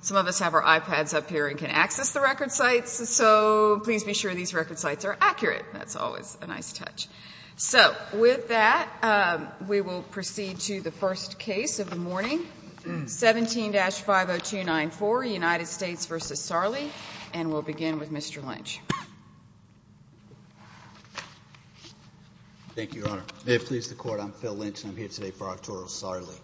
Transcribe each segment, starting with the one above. Some of us have our iPads up here and can access the record sites, so please be sure these record sites are accurate. That's always a nice touch. So, with that, we will proceed to the first case of the morning, 17-50294, United States v. Sarli, and we'll begin with Mr. Lynch. Thank you, Your Honor. May it please the Court, I'm Phil Lynch and I'm here today for Arturo Sarli.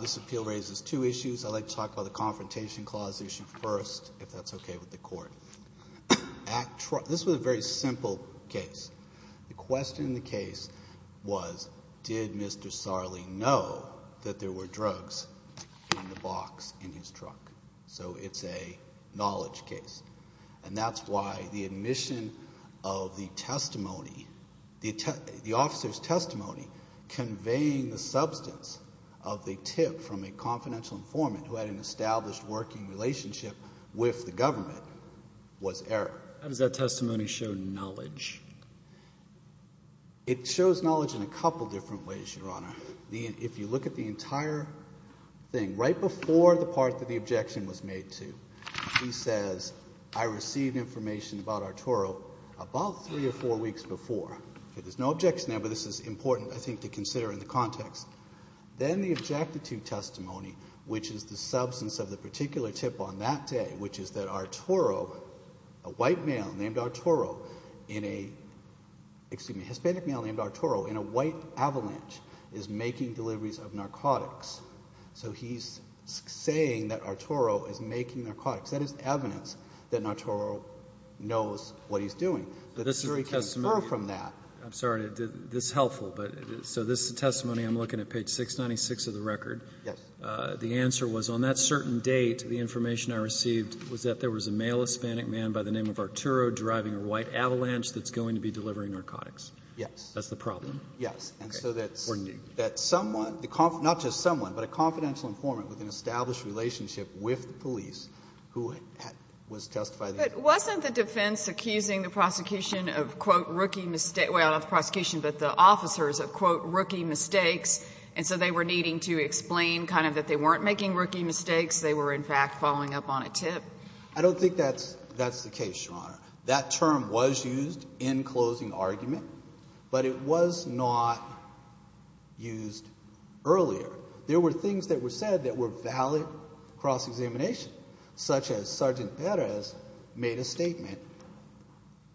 This appeal raises two issues. I'd like to talk about the Confrontation Clause issue first, if that's okay with the Court. This was a very simple case. The question in the case was, did Mr. Sarli know that there were drugs in the box in his truck? So, it's a knowledge case. And that's why the admission of the testimony, the officer's testimony conveying the substance of the tip from a confidential informant who had an established working relationship with the government was error. How does that testimony show knowledge? It shows knowledge in a couple different ways, Your Honor. If you look at the entire thing, right before the part that the objection was made to, he says, I received information about Arturo about three or four weeks before. There's no objection there, but this is important I think to consider in the context. Then the objective testimony, which is the substance of the particular tip on that day, which is that Arturo, a white male named Arturo, in a, excuse me, a Hispanic male named Arturo, in a white avalanche, is making deliveries of narcotics. So, he's saying that Arturo is making narcotics. That is evidence that Arturo knows what he's doing. But the jury can infer from that. I'm sorry. This is helpful. So, this testimony, I'm looking at page 696 of the record. Yes. The answer was, on that certain date, the information I received was that there was a male Hispanic man by the name of Arturo driving a white avalanche that's going to be delivering narcotics. Yes. That's the problem. Yes. And so that someone, not just someone, but a confidential informant with an established relationship with the police who was testifying. But wasn't the defense accusing the prosecution of, quote, rookie, well, not the prosecution, but the officers of, quote, rookie mistakes, and so they were needing to explain kind of that they weren't making rookie mistakes, they were, in fact, following up on a tip? I don't think that's the case, Your Honor. That term was used in closing argument, but it was not used earlier. There were things that were said that were valid cross-examination, such as Sergeant Perez made a statement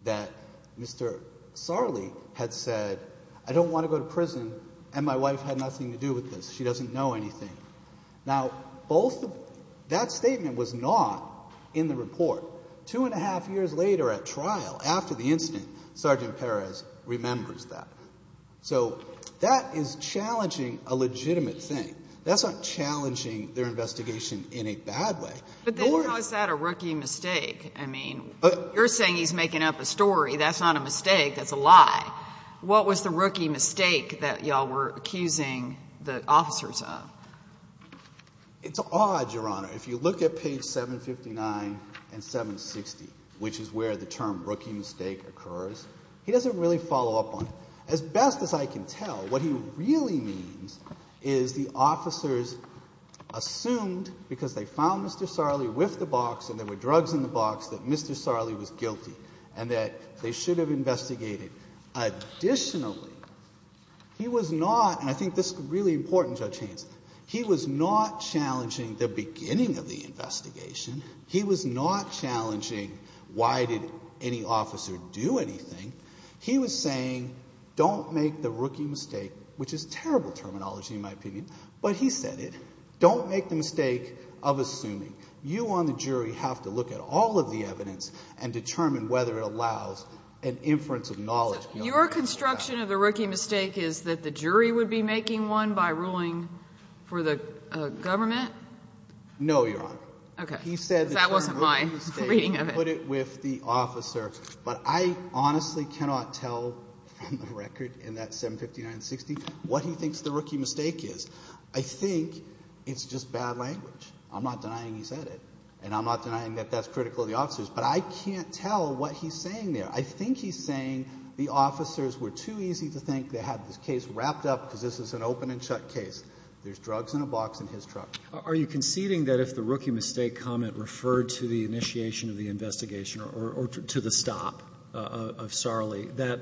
that Mr. Sarli had said, I don't want to go to prison, and my wife had nothing to do with this. She doesn't know anything. Now, both of, that statement was not in the report. Two and a half years later at trial, after the incident, Sergeant Perez remembers that. So, that is challenging a legitimate thing. That's not challenging their investigation in a bad way. But then, how is that a rookie mistake? I mean, you're saying he's making up a story. That's not a mistake. That's a lie. What was the rookie mistake that y'all were accusing the officers of? It's odd, Your Honor. If you look at page 759 and 760, which is where the term rookie mistake occurs, he doesn't really follow up on it. As best as I can tell, what he really means is the officers assumed, because they found Mr. Sarli with the box and there were drugs in the box, that Mr. Sarli was guilty and that they should have investigated. Additionally, he was not, and I think this is really important, Judge Hanson, he was not challenging the beginning of the investigation. He was not challenging why did any officer do anything. He was saying, don't make the rookie mistake, which is terrible terminology in my opinion, but he said it. Don't make the mistake of assuming. You on the jury have to look at all of the evidence and determine whether it allows an inference of knowledge beyond that. Your construction of the rookie mistake is that the jury would be making one by ruling for the government? No, Your Honor. Okay. He said the term rookie mistake. That wasn't my reading of it. I put it with the officer, but I honestly cannot tell from the record in that 75960 what he thinks the rookie mistake is. I think it's just bad language. I'm not denying he said it, and I'm not denying that that's critical of the officers, but I can't tell what he's saying there. I think he's saying the officers were too easy to think they had this case wrapped up because this is an open and shut case. There's drugs in a box in his truck. Are you conceding that if the rookie mistake comment referred to the initiation of the investigation or to the stop of Sarli, that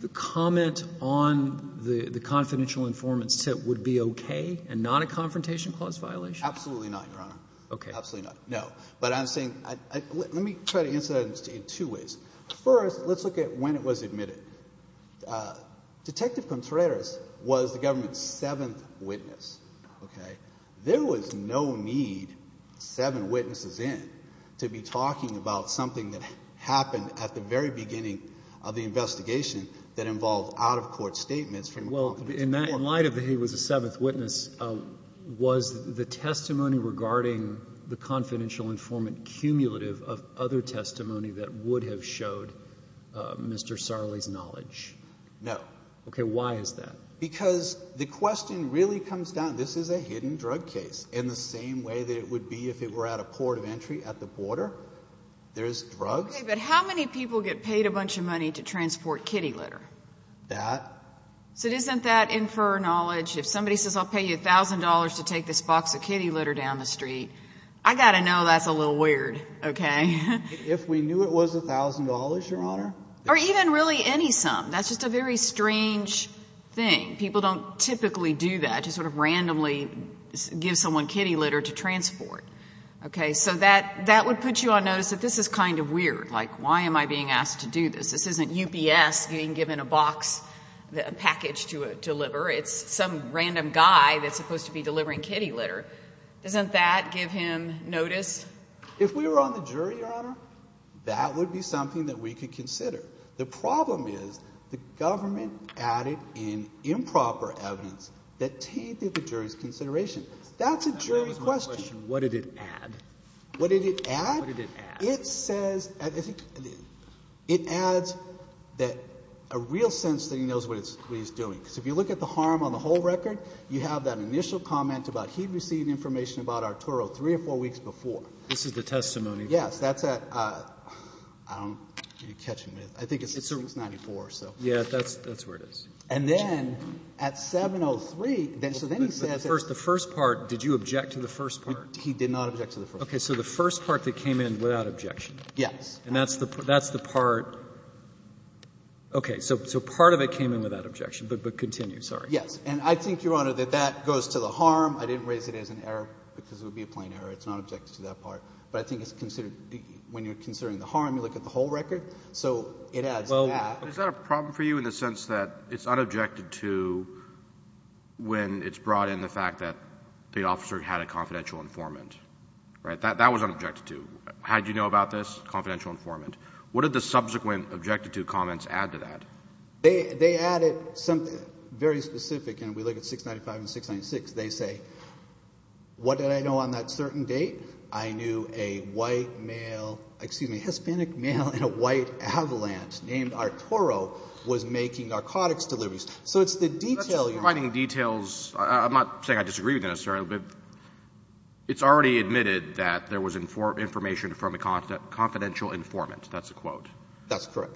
the comment on the confidential informant's tip would be okay and not a confrontation clause violation? Absolutely not, Your Honor. Okay. Absolutely not. No. But I'm saying, let me try to answer that in two ways. First, let's look at when it was admitted. Detective Contreras was the government's seventh witness, okay? There was no need, seven witnesses in, to be talking about something that happened at the very beginning of the investigation that involved out-of-court statements from a confidential informant. Well, in light of that he was the seventh witness, was the testimony regarding the confidential informant cumulative of other testimony that would have showed Mr. Sarli's knowledge? No. Okay. Why is that? Because the question really comes down, this is a hidden drug case, in the same way that it would be if it were at a port of entry at the border. There's drugs. Okay, but how many people get paid a bunch of money to transport kitty litter? That. So isn't that infer knowledge? If somebody says, I'll pay you $1,000 to take this box of kitty litter down the street, I got to know that's a little weird, okay? If we knew it was $1,000, Your Honor? Or even really any sum. That's just a very strange thing. People don't typically do that, just sort of randomly give someone kitty litter to transport, okay? So that would put you on notice that this is kind of weird. Like, why am I being asked to do this? This isn't UPS being given a box, a package to deliver. It's some random guy that's supposed to be delivering kitty litter. Doesn't that give him notice? If we were on the jury, Your Honor, that would be something that we could consider. The problem is the government added in improper evidence that tainted the jury's consideration. That's a jury question. What did it add? What did it add? What did it add? It says, I think, it adds that a real sense that he knows what he's doing. Because if you look at the harm on the whole record, you have that initial comment about he'd received information about Arturo three or four weeks before. This is the testimony. Yes. That's at, I don't know what you're catching me with. I think it's 94 or so. Yeah, that's where it is. And then at 703, so then he says that But first, the first part, did you object to the first part? He did not object to the first part. Okay. So the first part that came in without objection. Yes. And that's the part, okay. So part of it came in without objection, but continue, sorry. And I think, Your Honor, that that goes to the harm. I didn't raise it as an error because it would be a plain error. It's not objected to that part. But I think it's considered, when you're considering the harm, you look at the whole record. So it adds to that. Is that a problem for you in the sense that it's unobjected to when it's brought in the fact that the officer had a confidential informant, right? That was unobjected to. How did you know about this? Confidential informant. What did the subsequent objected to comments add to that? They added something very specific. And we look at 695 and 696. They say, what did I know on that certain date? I knew a white male, excuse me, Hispanic male in a white avalanche named Arturo was making narcotics deliveries. So it's the detail. That's providing details. I'm not saying I disagree with this, but it's already admitted that there was information from a confidential informant. That's a quote. That's correct.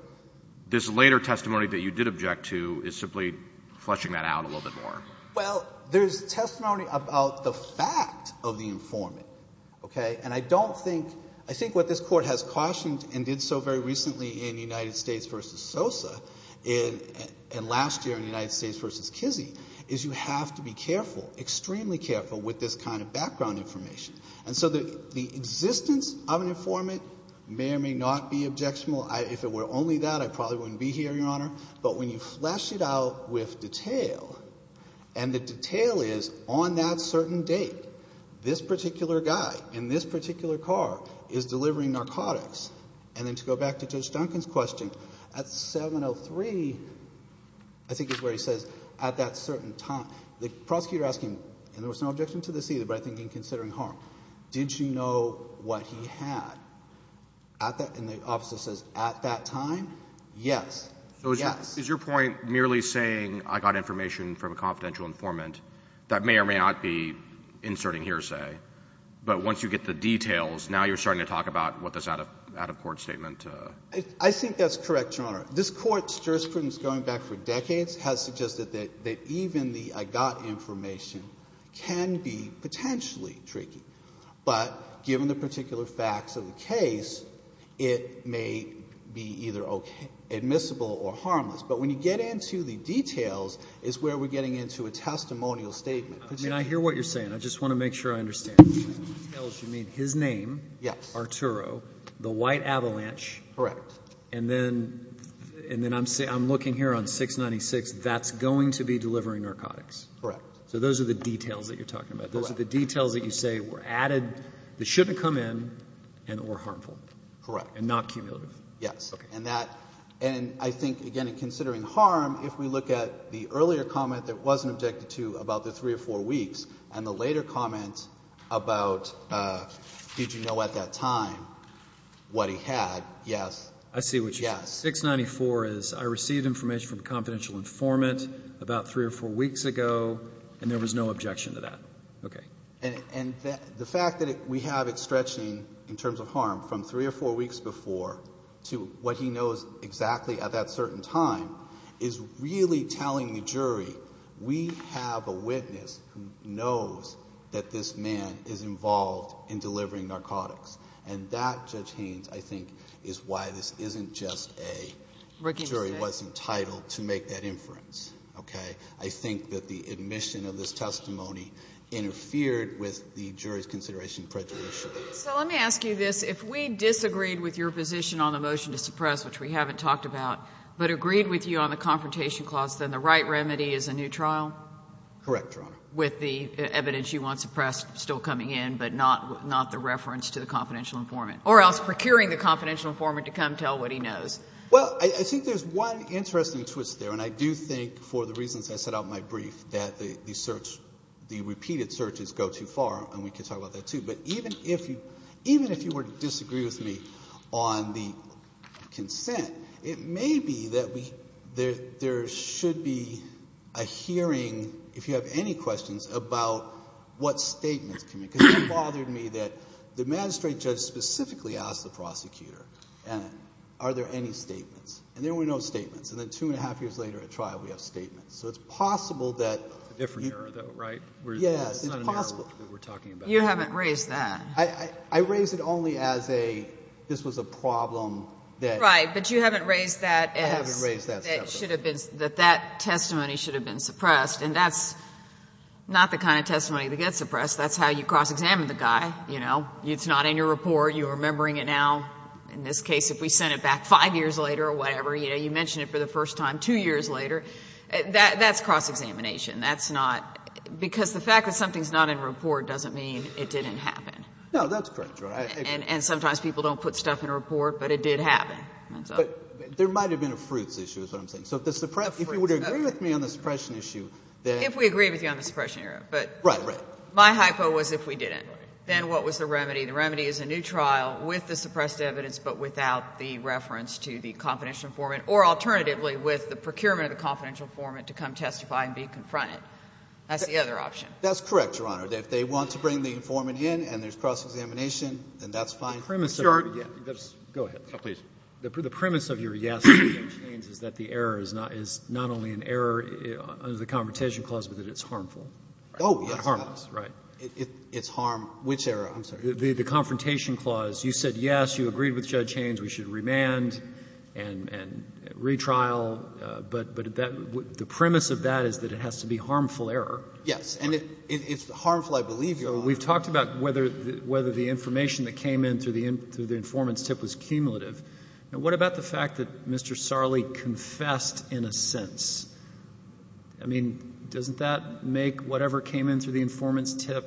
This later testimony that you did object to is simply fleshing that out a little bit more. Well, there's testimony about the fact of the informant, okay? And I don't think, I think what this Court has cautioned and did so very recently in United States v. Sosa and last year in United States v. Kizzee is you have to be careful, extremely careful with this kind of background information. And so the existence of an informant may or may not be objectionable. If it were only that, I probably wouldn't be here, Your Honor. But when you flesh it out with detail and the detail is on that certain date, this particular guy in this particular car is delivering narcotics. And then to go back to Judge Duncan's question at 703, I think it's where he says at that certain time, the prosecutor asking, and there was no objection to this either, but I think in considering harm, did you know what he had? And the officer says, at that time, yes. So is your point merely saying I got information from a confidential informant that may or may not be inserting hearsay, but once you get the details, now you're starting to talk about what this out-of-court statement? I think that's correct, Your Honor. This Court's jurisprudence going back for decades has suggested that even the I got information can be potentially tricky. But given the particular facts of the case, it may be either admissible or harmless. But when you get into the details is where we're getting into a testimonial statement. I mean, I hear what you're saying. I just want to make sure I understand. When he tells you, I mean, his name, Arturo, the white avalanche. Correct. And then I'm looking here on 696, that's going to be delivering narcotics. Correct. So those are the details that you're talking about. Those are the details that you say were added that shouldn't come in and were harmful. Correct. And not cumulative. Yes. And that, and I think, again, in considering harm, if we look at the earlier comment that wasn't objected to about the three or four weeks and the later comment about did you know at that time what he had, yes. I see what you're saying. 694 is I received information from a confidential informant about three or four weeks ago and there was no objection to that. Okay. And the fact that we have it stretching in terms of harm from three or four weeks before to what he knows exactly at that certain time is really telling the jury we have a witness who knows that this man is involved in delivering narcotics. And that, Judge Haynes, I think is why this isn't just a jury was entitled to make that inference. Okay. I think that the admission of this testimony interfered with the jury's consideration of prejudice. So let me ask you this. If we disagreed with your position on the motion to suppress, which we haven't talked about, but agreed with you on the confrontation clause, then the right remedy is a new trial? Correct, Your Honor. With the evidence you want suppressed still coming in, but not the reference to the confidential informant. Or else procuring the confidential informant to come tell what he knows. Well, I think there's one interesting twist there. And I do think for the reasons I set out in my brief that the search, the repeated searches go too far. And we can talk about that too. But even if you were to disagree with me on the consent, it may be that there should be a hearing, if you have any questions, about what statements. Because it bothered me that the magistrate judge specifically asked the prosecutor, are there any statements? And there were no statements. And then two and a half years later at trial, we have statements. So it's possible that... A different error, though, right? Yes, it's possible. You haven't raised that. I raised it only as a, this was a problem that... Right. But you haven't raised that as... I haven't raised that. That that testimony should have been suppressed. And that's not the kind of testimony that gets suppressed. That's how you cross-examine the guy, it's not in your report, you're remembering it now. In this case, if we sent it back five years later or whatever, you mentioned it for the first time two years later, that's cross-examination. That's not... Because the fact that something's not in report doesn't mean it didn't happen. No, that's correct. And sometimes people don't put stuff in a report, but it did happen. But there might've been a fruits issue, is what I'm saying. So if you were to agree with me on the suppression issue, then... If we agree with you on the suppression error. Right, right. But my hypo was if we didn't, then what was the remedy? The remedy is a new trial with the suppressed evidence, but without the reference to the confidential informant, or alternatively with the procurement of the confidential informant to come testify and be confronted. That's the other option. That's correct, Your Honor. If they want to bring the informant in and there's cross-examination, then that's fine. The premise of... Sir... Yeah, go ahead. Oh, please. The premise of your yes, is that the error is not only an error under the Confrontation Clause, but that it's harmful. Oh, yes, it is. Harmful, right. It's harm... Which error? I'm sorry. The Confrontation Clause. You said, yes, you agreed with Judge Haynes, we should remand and retrial. But the premise of that is that it has to be harmful error. Yes. And it's harmful, I believe, Your Honor. We've talked about whether the information that came in through the informant's tip was cumulative. Now, what about the fact that Mr. Sarli confessed in a sense? I mean, doesn't that make whatever came in through the informant's tip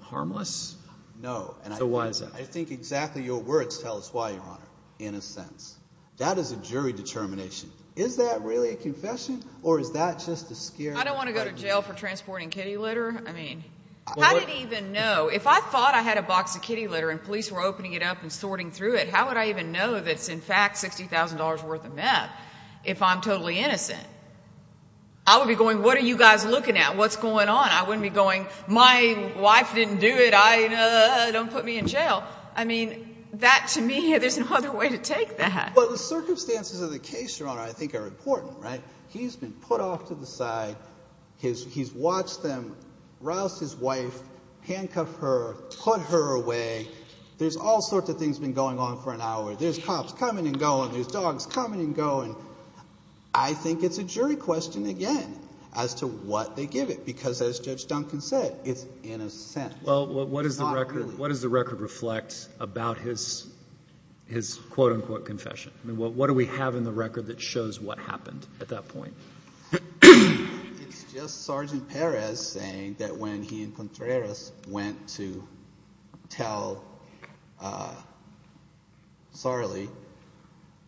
harmless? No. So why is that? I think exactly your words tell us why, Your Honor, in a sense. That is a jury determination. Is that really a confession or is that just a scare? I don't want to go to jail for transporting kitty litter. I mean, how did he even know? If I thought I had a box of kitty litter and police were opening it up and sorting through it, how would I even know that it's in fact $60,000 worth of meth if I'm looking at what's going on? I wouldn't be going, my wife didn't do it. Don't put me in jail. I mean, that to me, there's no other way to take that. Well, the circumstances of the case, Your Honor, I think are important, right? He's been put off to the side. He's watched them rouse his wife, handcuff her, put her away. There's all sorts of things been going on for an hour. There's cops coming and going. There's dogs coming and going. I think it's a jury question, again, as to what they give it. Because as Judge Duncan said, it's innocent. Well, what does the record reflect about his quote-unquote confession? I mean, what do we have in the record that shows what happened at that point? It's just Sergeant Perez saying that when he and Contreras went to tell Sarli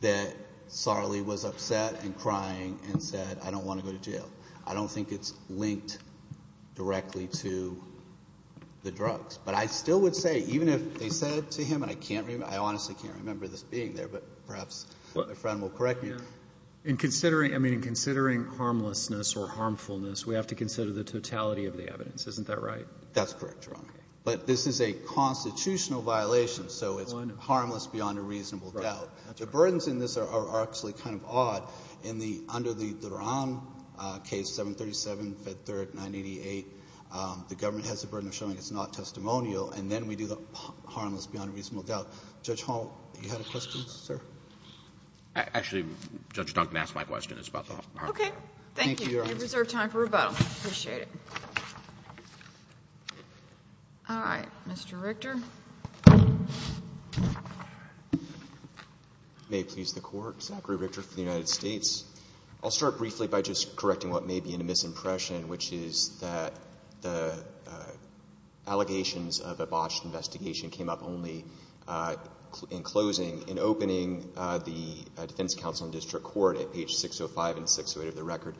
that Sarli was upset and crying and said, I don't want to go to jail. I don't think it's linked directly to the drugs. But I still would say, even if they said to him, and I honestly can't remember this being there, but perhaps my friend will correct me. In considering, I mean, in considering harmlessness or harmfulness, we have to consider the totality of the evidence. Isn't that right? That's correct, Your Honor. But this is a constitutional violation, so it's harmless beyond a reasonable doubt. The burdens in this are actually kind of odd. In the under the Duran case, 737, Fed Third, 988, the government has the burden of showing it's not testimonial. And then we do the harmless beyond a reasonable doubt. Judge Hall, you had a question, sir? Actually, Judge Duncan asked my question. It's about the harmlessness. Okay. Thank you. We reserve time for rebuttal. Appreciate it. All right. Mr. Richter? May it please the Court, Zachary Richter for the United States. I'll start briefly by just correcting what may be a misimpression, which is that the allegations of a botched investigation came up only in closing, in opening the defense counsel in district court at page 605 and 608 of the record.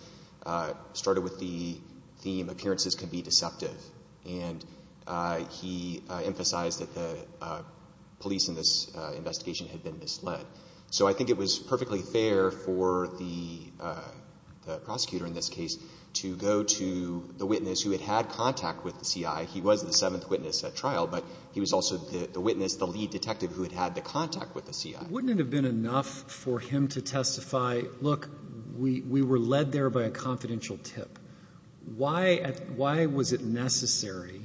It started with the theme, appearances can be deceptive. And he emphasized that the police in this investigation had been misled. So I think it was perfectly fair for the prosecutor in this case to go to the witness who had had contact with the CI. He was the seventh witness at trial, but he was also the witness, the lead detective who had had the contact with the CI. Wouldn't it have been enough for him to testify, look, we were led there by a confidential tip. Why was it necessary?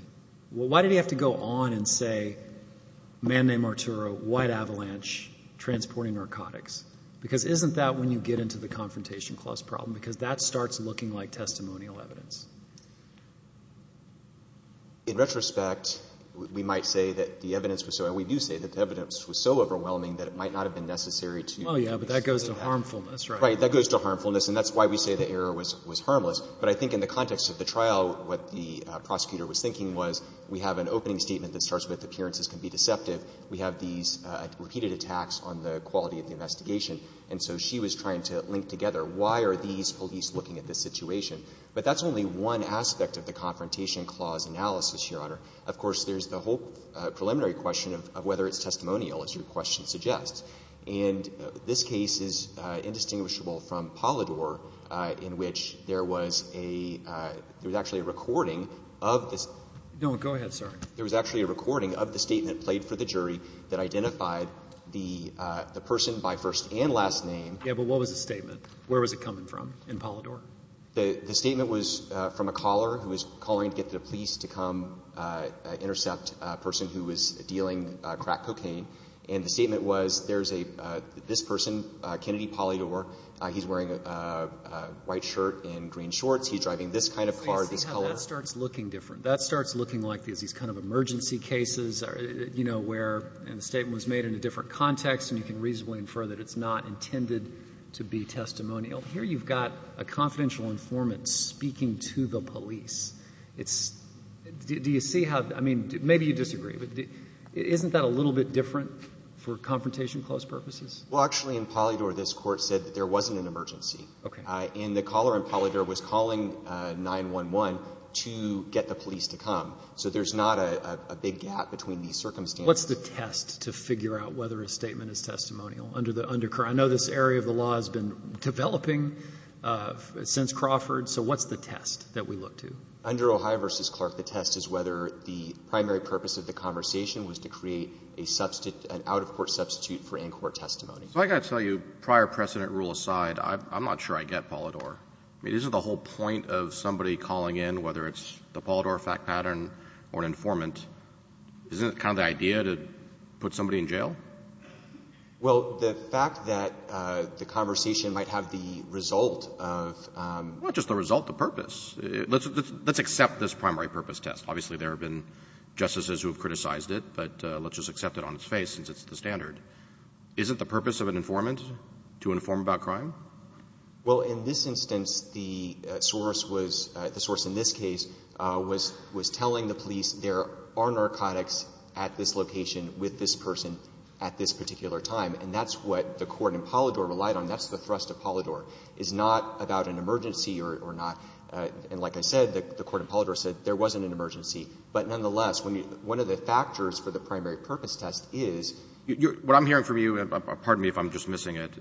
Well, why did he have to go on and say, man named Arturo, white avalanche, transporting narcotics? Because isn't that when you get into the confrontation clause problem, because that starts looking like testimonial evidence. In retrospect, we might say that the evidence was so, and we do say that the evidence was so but that goes to harmfulness. Right. That goes to harmfulness. And that's why we say the error was harmless. But I think in the context of the trial, what the prosecutor was thinking was we have an opening statement that starts with appearances can be deceptive. We have these repeated attacks on the quality of the investigation. And so she was trying to link together why are these police looking at this situation. But that's only one aspect of the confrontation clause analysis, Your Honor. Of course, there's the whole preliminary question of whether it's testimonial, as your question suggests. And this case is indistinguishable from Polidor, in which there was a, there was actually a recording of this. No, go ahead, sir. There was actually a recording of the statement played for the jury that identified the person by first and last name. Yeah, but what was the statement? Where was it coming from in Polidor? The statement was from a caller who was calling to get the police to come intercept a person who was dealing crack cocaine. And the statement was there's a, this person, Kennedy Polidor, he's wearing a white shirt and green shorts. He's driving this kind of car, this color. That starts looking different. That starts looking like there's these kind of emergency cases, you know, where the statement was made in a different context and you can reasonably infer that it's not intended to be testimonial. Here you've got a confidential informant speaking to the police. It's, do you see how, I mean, maybe you disagree, but isn't that a little bit different for confrontation close purposes? Well, actually in Polidor, this court said that there wasn't an emergency. Okay. And the caller in Polidor was calling 911 to get the police to come. So there's not a big gap between these circumstances. What's the test to figure out whether a statement is testimonial under the undercurrent? I know this area of the law has been developing since Crawford. So what's the test that we look to? Under Ohio v. Clark, the test is whether the primary purpose of the conversation was to create a substitute, an out-of-court substitute for in-court testimony. So I got to tell you, prior precedent rule aside, I'm not sure I get Polidor. I mean, isn't the whole point of somebody calling in, whether it's the Polidor fact pattern or an informant, isn't it kind of the idea to put somebody in jail? Well, the fact that the conversation might have the result of... Well, not just the result, the purpose. Let's accept this primary purpose test. Obviously, there have been justices who have criticized it, but let's just accept it on its face since it's the standard. Isn't the purpose of an informant to inform about crime? Well, in this instance, the source in this case was telling the police there are narcotics at this location with this person at this particular time, and that's what the court in Polidor relied on. That's the thrust of Polidor. It's not about an emergency or not. And like I said, the court in Polidor said there wasn't an emergency. But nonetheless, one of the factors for the primary purpose test is... What I'm hearing from you, and pardon me if I'm just missing it,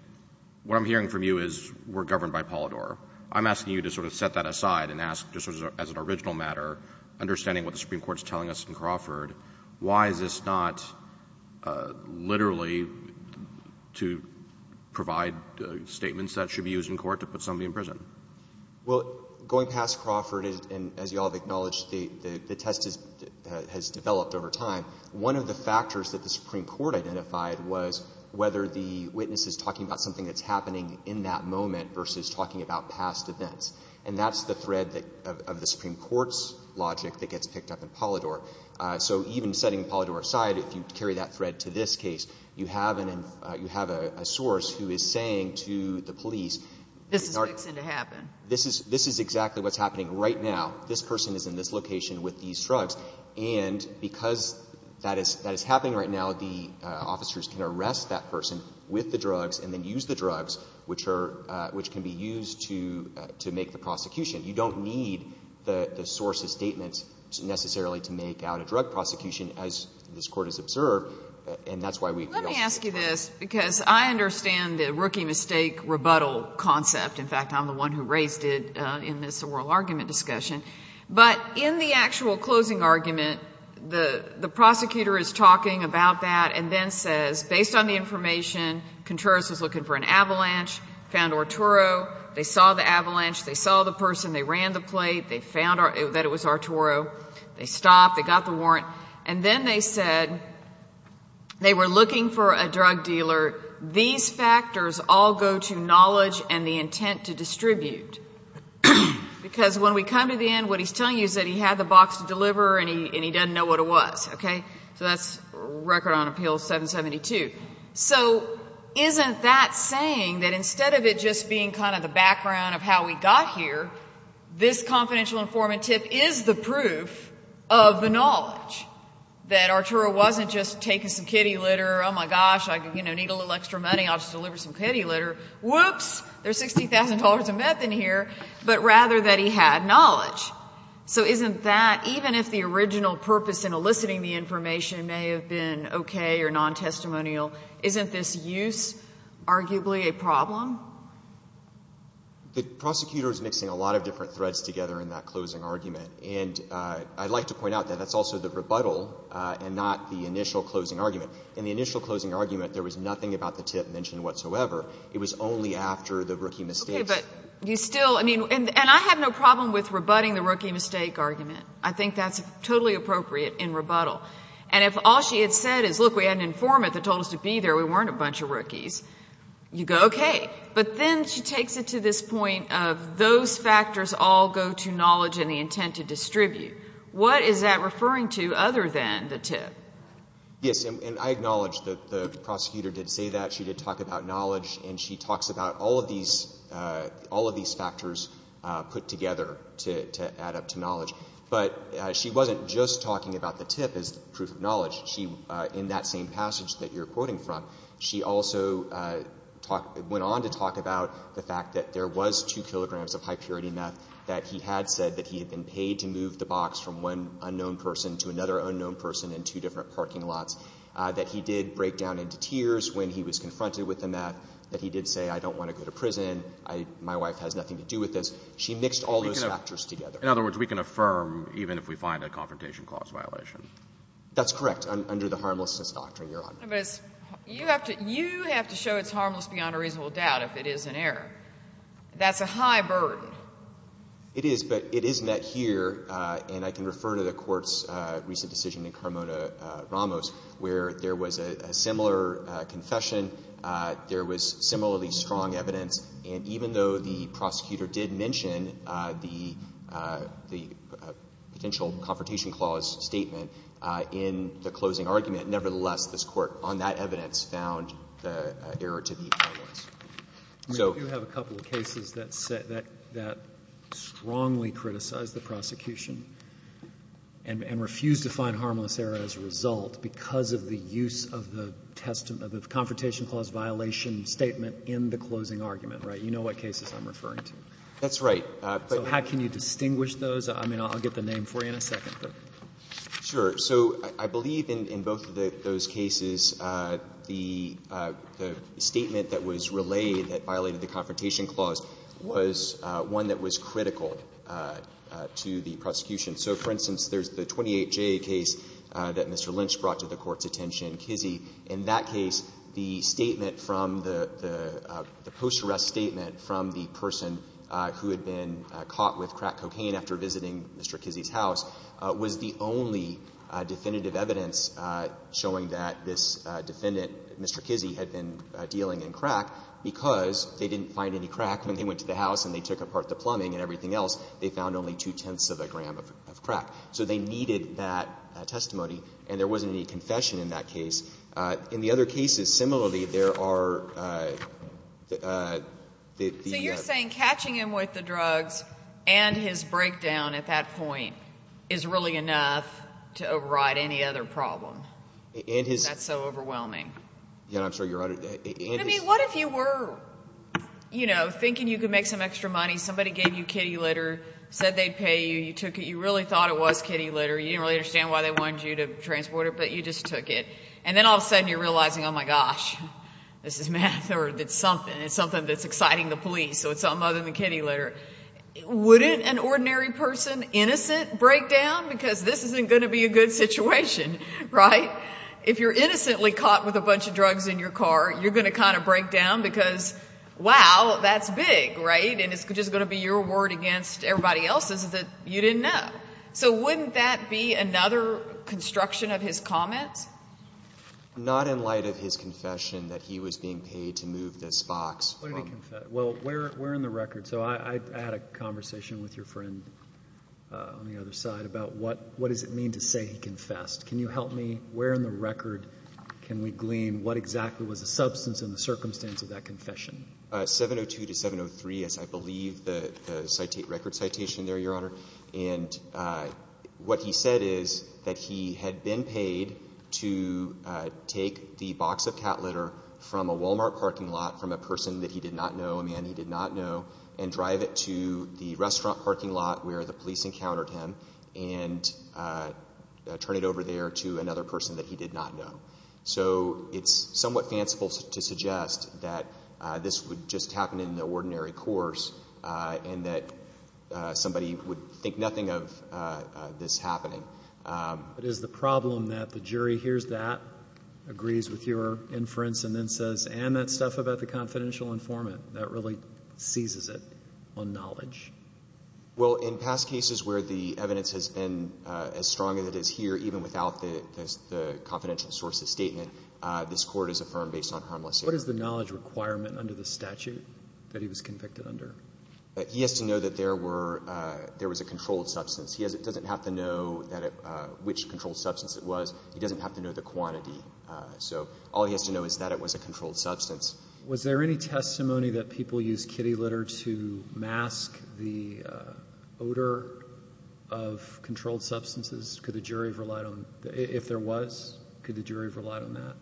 what I'm hearing from you is we're governed by Polidor. I'm asking you to sort of set that aside and ask just as an original matter, understanding what the Supreme Court's telling us in Crawford, why is this not literally to provide statements that should be used in court to put somebody in prison? Well, going past Crawford, as you all have acknowledged, the test has developed over time. One of the factors that the Supreme Court identified was whether the witness is talking about something that's happening in that moment versus talking about past events, and that's the thread of the Supreme Court's logic that gets picked up in Polidor. So even setting Polidor aside, if you carry that thread to this case, you have a source who is saying to the police... This is fixing to happen. This is exactly what's happening right now. This person is in this location with these drugs. And because that is happening right now, the officers can arrest that person with the drugs and then use the drugs, which can be used to make the prosecution. You don't need the source's statements necessarily to make out a drug prosecution, as this Court has observed. And that's why we... Let me ask you this, because I understand the rookie mistake rebuttal concept. In fact, I'm the one who raised it in this oral argument discussion. But in the actual closing argument, the prosecutor is talking about that and then says, based on the information, Contreras was looking for an avalanche, found Arturo, they saw the avalanche, they saw the person, they ran the that it was Arturo, they stopped, they got the warrant, and then they said they were looking for a drug dealer. These factors all go to knowledge and the intent to distribute. Because when we come to the end, what he's telling you is that he had the box to deliver and he doesn't know what it was, okay? So that's record on Appeal 772. So isn't that saying that instead of it just being kind of the background of how we got here, this confidential informant tip is the proof of the knowledge that Arturo wasn't just taking some kitty litter, oh my gosh, I need a little extra money, I'll just deliver some kitty litter, whoops, there's $60,000 of meth in here, but rather that he had knowledge. So isn't that, even if the original purpose in eliciting the information may have been okay or non-testimonial, isn't this use arguably a problem? The prosecutor is mixing a lot of different threads together in that closing argument. And I'd like to point out that that's also the rebuttal and not the initial closing argument. In the initial closing argument, there was nothing about the tip mentioned whatsoever. It was only after the rookie mistakes. Okay, but you still, I mean, and I have no problem with rebutting the rookie mistake argument. I think that's totally appropriate in rebuttal. And if all she had said is, look, we had an informant that told us to be there, we weren't a bunch of rookies, you go, okay. But then she takes it to this point of those factors all go to knowledge and the intent to distribute. What is that referring to other than the tip? Yes, and I acknowledge that the prosecutor did say that. She did talk about knowledge, and she talks about all of these factors put together to add up to knowledge. But she wasn't just talking about the tip as proof of knowledge. In that same passage that you're quoting from, she also went on to talk about the fact that there was two kilograms of high purity meth that he had said that he had been paid to move the box from one unknown person to another unknown person in two different parking lots, that he did break down into tears when he was confronted with the meth, that he did say, I don't want to go to prison. My wife has nothing to do with this. She mixed all those factors together. In other words, we can affirm even if we find a confrontation clause violation. That's correct under the harmlessness doctrine, Your Honor. You have to show it's harmless beyond a reasonable doubt if it is an error. That's a high burden. It is, but it is met here, and I can refer to the court's recent decision in Carmona-Ramos where there was a similar confession, there was similarly strong evidence, and even though the prosecutor did mention the potential confrontation clause statement in the closing argument, nevertheless, this court on that evidence found the error to be harmless. We do have a couple of cases that strongly criticize the prosecution and refuse to find harmless error as a result because of the use of the confrontation clause violation statement in the closing argument, right? You know what cases I'm referring to. That's right. So how can you distinguish those? I mean, I'll get the name for you in a second. Sure. So I believe in both of those cases, the statement that was relayed that violated the confrontation clause was one that was critical to the prosecution. So, for instance, there's the 28J case that Mr. Lynch brought to the Court's attention, Kizzee. In that case, the statement from the post-arrest statement from the person who had been caught with crack cocaine after visiting Mr. Kizzee's house was the only definitive evidence showing that this defendant, Mr. Kizzee, had been dealing in crack because they didn't find any crack when they went to the house and they took apart the plumbing and everything else. They found only two-tenths of a gram of crack. So they needed that testimony, and there wasn't any confession in that case. In the other cases, similarly, there are... So you're saying catching him with the drugs and his breakdown at that point is really enough to override any other problem? That's so overwhelming. Yeah, I'm sorry, Your Honor. What if you were, you know, thinking you could make some extra money. Somebody gave you kitty litter, said they'd pay you. You took it. You really thought it was kitty litter. You didn't understand why they wanted you to transport it, but you just took it. And then all of a sudden, you're realizing, oh my gosh, this is math or it's something. It's something that's exciting the police. So it's something other than kitty litter. Wouldn't an ordinary person, innocent, break down? Because this isn't going to be a good situation, right? If you're innocently caught with a bunch of drugs in your car, you're going to kind of break down because, wow, that's big, right? And it's just going to be your word against everybody else's that you didn't know. So wouldn't that be another construction of his comment? Not in light of his confession that he was being paid to move this box. What did he confess? Well, where in the record? So I had a conversation with your friend on the other side about what does it mean to say he confessed? Can you help me? Where in the record can we glean what exactly was the substance and the circumstance of that confession? 702 to 703 is, I believe, the record citation there, Your Honor. And what he said is that he had been paid to take the box of cat litter from a Walmart parking lot from a person that he did not know, a man he did not know, and drive it to the restaurant parking lot where the police encountered him and turn it over there to another person that he did not know. So it's somewhat fanciful to suggest that this would just happen in the ordinary course and that somebody would think nothing of this happening. But is the problem that the jury hears that, agrees with your inference, and then says, and that stuff about the confidential informant, that really seizes it on knowledge? Well, in past cases where the evidence has been as strong as it is here, even without the confidential sources statement, this court is affirmed based on harmless error. What is the knowledge requirement under the statute that he was convicted under? He has to know that there was a controlled substance. He doesn't have to know which controlled substance it was. He doesn't have to know the quantity. So all he has to know is that it was a controlled substance. Was there any testimony that people used kitty litter to mask the odor of controlled substances? Could the jury have relied on that? If there was, could the jury have relied on that?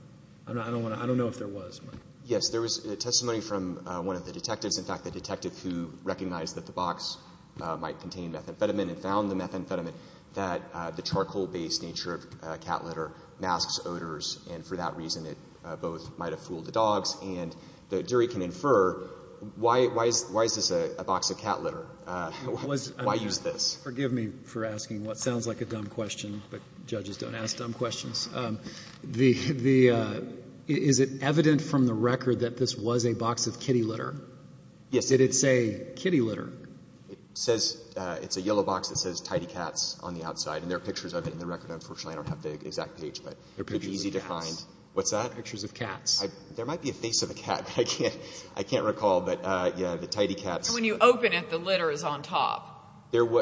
I don't know if there was. Yes, there was testimony from one of the detectives. In fact, the detective who recognized that the box might contain methamphetamine and found the methamphetamine, that the charcoal-based nature of cat litter masks odors. And for that reason, it both might have fooled the dogs. And the jury can infer, why is this a box of cat litter? Why use this? Forgive me for asking what sounds like a dumb question, but judges don't ask dumb questions. Is it evident from the record that this was a box of kitty litter? Yes. Did it say kitty litter? It says it's a yellow box that says tidy cats on the outside. And there are pictures of it in the record. Unfortunately, I don't have the exact page, but it's easy to find. What's that? Pictures of cats. There might be a face of a cat. I can't recall, but yeah, the tidy cats. When you open it, the litter is on top.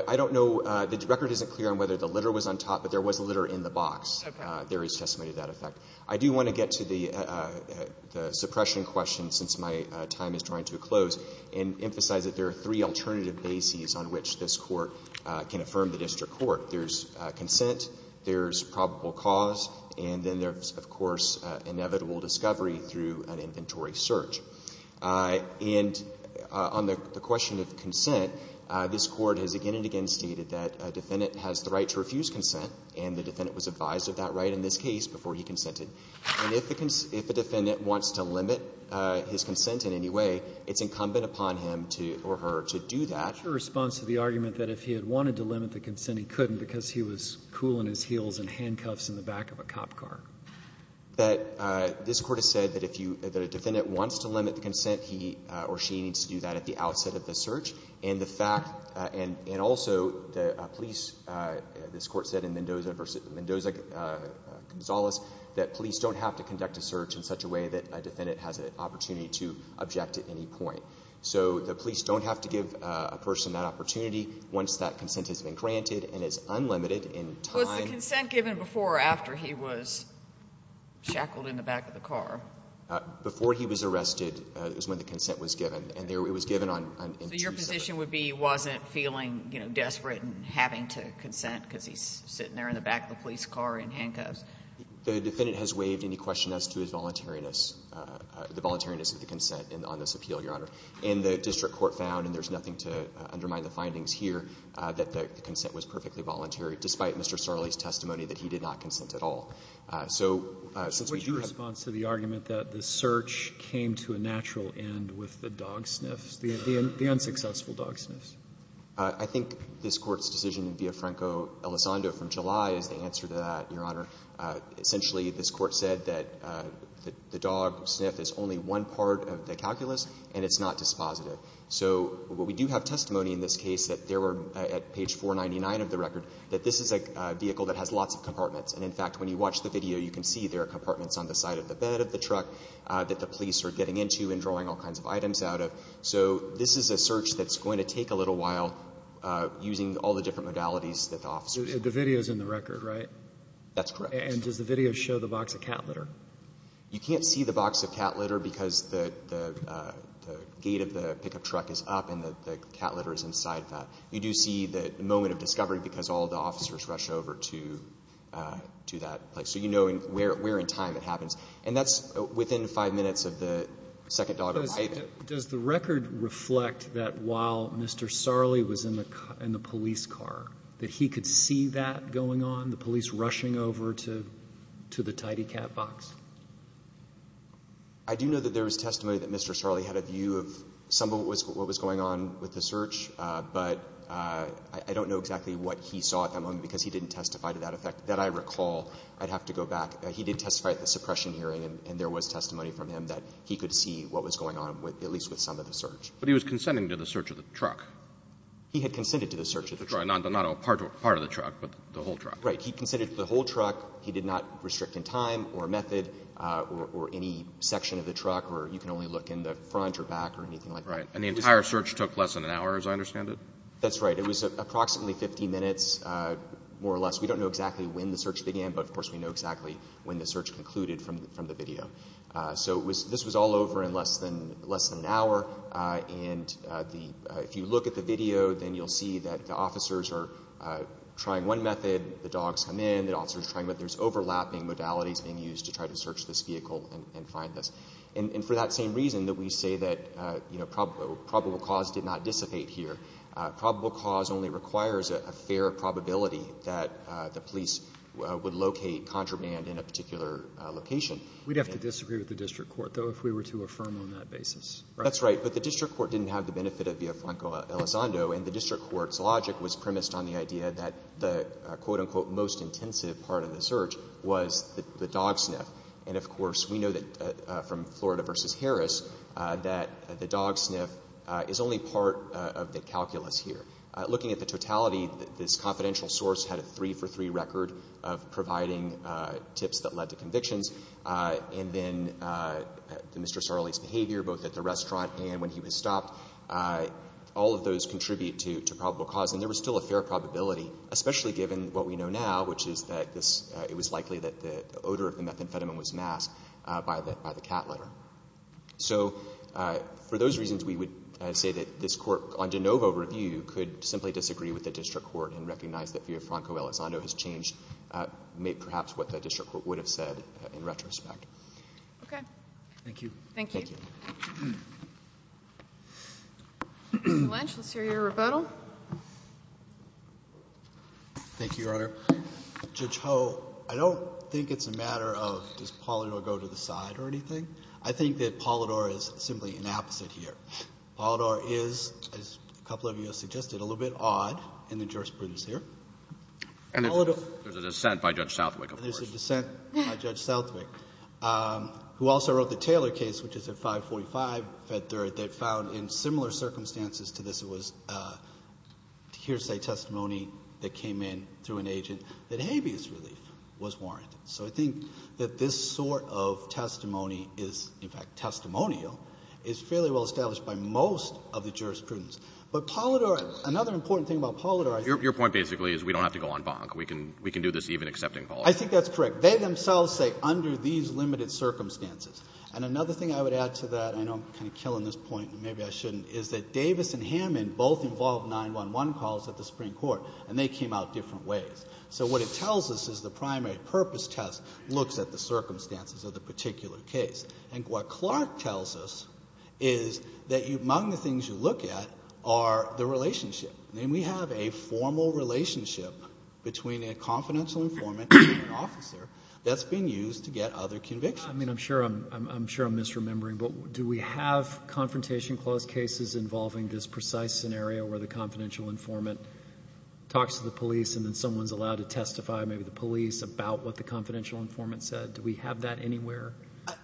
I don't know. The record isn't clear on whether the litter was on top, but there was litter in the box. There is testimony to that effect. I do want to get to the suppression question, since my time is drawing to a close, and emphasize that there are three alternative bases on which this court can affirm the district court. There's consent, there's probable cause, and then there's, of course, inevitable discovery through an inventory search. And on the question of consent, this Court has again and again stated that a defendant has the right to refuse consent, and the defendant was advised of that right in this case before he consented. And if the defendant wants to limit his consent in any way, it's incumbent upon him or her to do that. What's your response to the argument that if he had wanted to limit the consent, he couldn't because he was cool in his heels and handcuffs in the back of a cop car? This Court has said that if the defendant wants to limit the consent, he or she needs to do that at the outset of the search. And also, the police, this Court said in Mendoza v. Mendoza-Gonzalez, that police don't have to conduct a search in such a way that a defendant has an opportunity to object at any point. So the police don't have to give a person that opportunity once that consent has been granted and is unlimited in time. Was the consent given before or after he was shackled in the back of the car? Before he was arrested, it was when the consent was given, and it was given on Tuesday. So your position would be he wasn't feeling, you know, desperate and having to consent because he's sitting there in the back of the police car in handcuffs? The defendant has waived any question as to his voluntariness, the voluntariness of the consent on this appeal, Your Honor. And the district court found, and there's nothing to undermine the findings here, that the consent was perfectly voluntary, despite Mr. Starley's testimony that he did not consent at all. So since we do have What's your response to the argument that the search came to a natural end with the dog sniffs, the unsuccessful dog sniffs? I think this Court's decision via Franco-Elizondo from July is the answer to that, Your Honor. Essentially, this Court said that the dog sniff is only one part of the calculus and it's not dispositive. So what we do have testimony in this case that there were, at page 499 of the record, that this is a vehicle that has lots of compartments. And in fact, when you watch the video, you can see there are compartments on the side of the bed of the truck that the police are getting into and drawing all kinds of items out of. So this is a search that's going to take a little while using all the different modalities that the officers The video's in the record, right? That's correct. And does the video show the box of cat litter? You can't see the box of cat litter because the gate of the pickup truck is up and the cat litter is inside that. You do see the moment of discovery because all the officers rush over to that place. So you know where in time it happens. And that's within five minutes of the second dog. Does the record reflect that while Mr. Sarli was in the police car, that he could see that going on, the police rushing over to the tidy cat box? I do know that there was testimony that Mr. Sarli had a view of some of what was going on with the search, but I don't know exactly what he saw at that moment because he didn't testify to that effect. That I recall, I'd have to go back. He did testify at the suppression hearing and there was testimony from him that he could see what was going on with at least with some of the search. But he was consenting to the search of the truck? He had consented to the search of the truck. Not a part of the truck, but the whole truck. He consented to the whole truck. He did not restrict in time or method or any section of the truck where you can only look in the front or back or anything like that. And the entire search took less than an hour as I understand it? That's right. It was approximately 15 minutes, more or less. We don't know exactly when the search began, but of course we know exactly when the search concluded from the video. So this was all over in less than an hour. And if you look at the video, then you'll see that officers are trying one method, the dogs come in, the officers try, but there's overlapping modalities being used to try to search this vehicle and find this. And for that same reason that we say that probable cause did not dissipate here. Probable cause only requires a fair probability that the police would locate contraband in a particular location. We'd have to disagree with the district court, though, if we were to affirm on that basis. That's right. But the district court didn't have the benefit of Villafranco-Elizondo, and the district court's logic was premised on the idea that the quote-unquote most intensive part of the search was the dog sniff. And of course we know from Florida v. Harris that the dog sniff is only part of the calculus here. Looking at the totality, this confidential source had a three-for-three record of providing tips that led to convictions, and then Mr. Lynch would also contribute to probable cause, and there was still a fair probability, especially given what we know now, which is that it was likely that the odor of the methamphetamine was masked by the cat litter. So for those reasons we would say that this court on de novo review could simply disagree with the district court and recognize that Villafranco-Elizondo has changed perhaps what the district court would have said in retrospect. Okay. Thank you. Thank you. Mr. Lynch, let's hear your rebuttal. Thank you, Your Honor. Judge Ho, I don't think it's a matter of does Polidor go to the side or anything. I think that Polidor is simply an opposite here. Polidor is, as a couple of you have suggested, a little bit odd in the jurisprudence here. And there's a dissent by Judge Southwick, of course. There's a dissent by Judge Southwick, who also wrote the Taylor case, which is at 545 Fed Third, that found in similar circumstances to this it was hearsay testimony that came in through an agent that habeas relief was warranted. So I think that this sort of testimony is, in fact, testimonial, is fairly well established by most of the jurisprudence. But Polidor, another important thing about Polidor— Your point basically is we don't have to go on bonk. We can do this even accepting Polidor. I think that's correct. They themselves say under these limited circumstances. And another thing I would add to that, I know I'm kind of killing this point, and maybe I shouldn't, is that Davis and Hammond both involved 911 calls at the Supreme Court, and they came out different ways. So what it tells us is the primary purpose test looks at the circumstances of the particular case. And what Clark tells us is that among the things you look at are the relationship. And we have a formal relationship between a confidential informant and an officer that's being used to get other convictions. I mean, I'm sure I'm misremembering, but do we have confrontation clause cases involving this precise scenario where the confidential informant talks to the police and then someone's allowed to testify, maybe the police, about what the confidential informant said? Do we have that anywhere?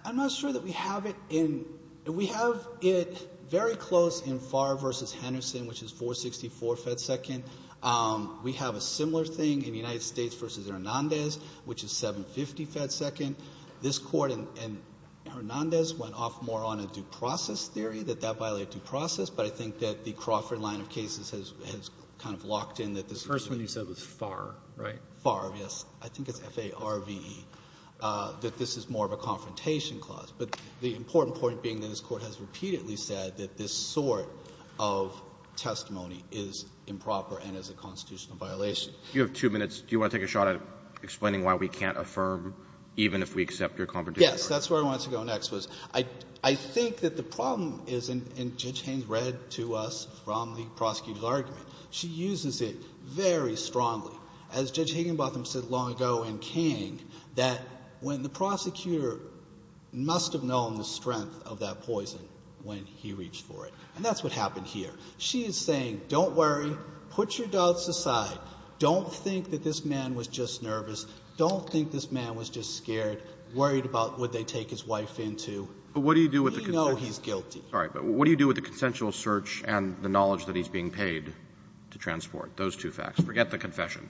I'm not sure that we have it in—we have it very close in Farr v. Henderson, which is 464 fed second. We have a similar thing in United States v. Hernandez, which is 750 fed second. This Court and Hernandez went off more on a due process theory, that that violated due process, but I think that the Crawford line of cases has kind of locked in that this— The first one you said was Farr, right? Farr, yes. I think it's F-A-R-V-E, that this is more of a confrontation clause. But the important point being that this Court has repeatedly said that this sort of testimony is improper and is a constitutional violation. You have two minutes. Do you want to take a shot at explaining why we can't affirm even if we accept your confrontation? Yes. That's where I wanted to go next, was I think that the problem is—and Judge Haines read to us from the prosecutor's argument. She uses it very strongly. As Judge Higginbotham said long ago in Kang, that when the prosecutor must have known the strength of that poison when he reached for it. And that's what happened here. She is saying, don't worry. Put your doubts aside. Don't think that this man was just nervous. Don't think this man was just scared, worried about what they take his wife into. We know he's guilty. All right. But what do you do with the consensual search and the knowledge that he's being paid to transport? Those two facts. Forget the confession.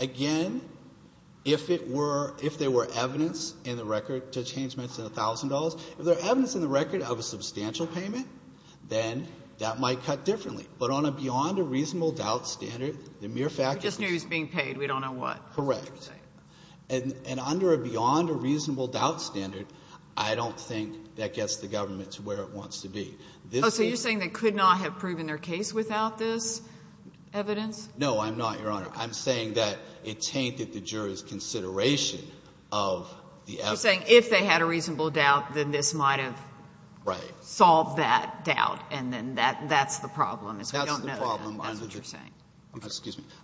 Again, if it were, if there were evidence in the record, Judge Haines mentioned $1,000. If there's evidence in the record of a substantial payment, then that might cut differently. But on a beyond a reasonable doubt standard, the mere fact— We just knew he was being paid. We don't know what. Correct. And under a beyond a reasonable doubt standard, I don't think that gets the government to where it wants to be. Oh, so you're saying they could not have proven their case without this evidence? No, I'm not, Your Honor. I'm saying that it tainted the jury's consideration of the evidence. You're saying if they had a reasonable doubt, then this might have solved that doubt. And then that's the problem. That's the problem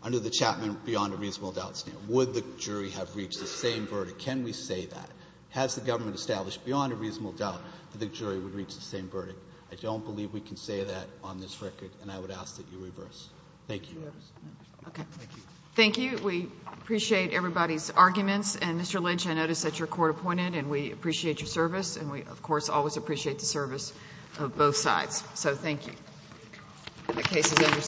under the Chapman beyond a reasonable doubt standard. Would the jury have reached the same verdict? Can we say that? Has the government established beyond a reasonable doubt that the jury would reach the same verdict? I don't believe we can say that on this record, and I would ask that you reverse. Thank you. Okay. Thank you. We appreciate everybody's arguments. And Mr. Lynch, I noticed that you're court appointed, and we appreciate your service, and we, of course, always appreciate the service of both sides. So thank you. The case is understood.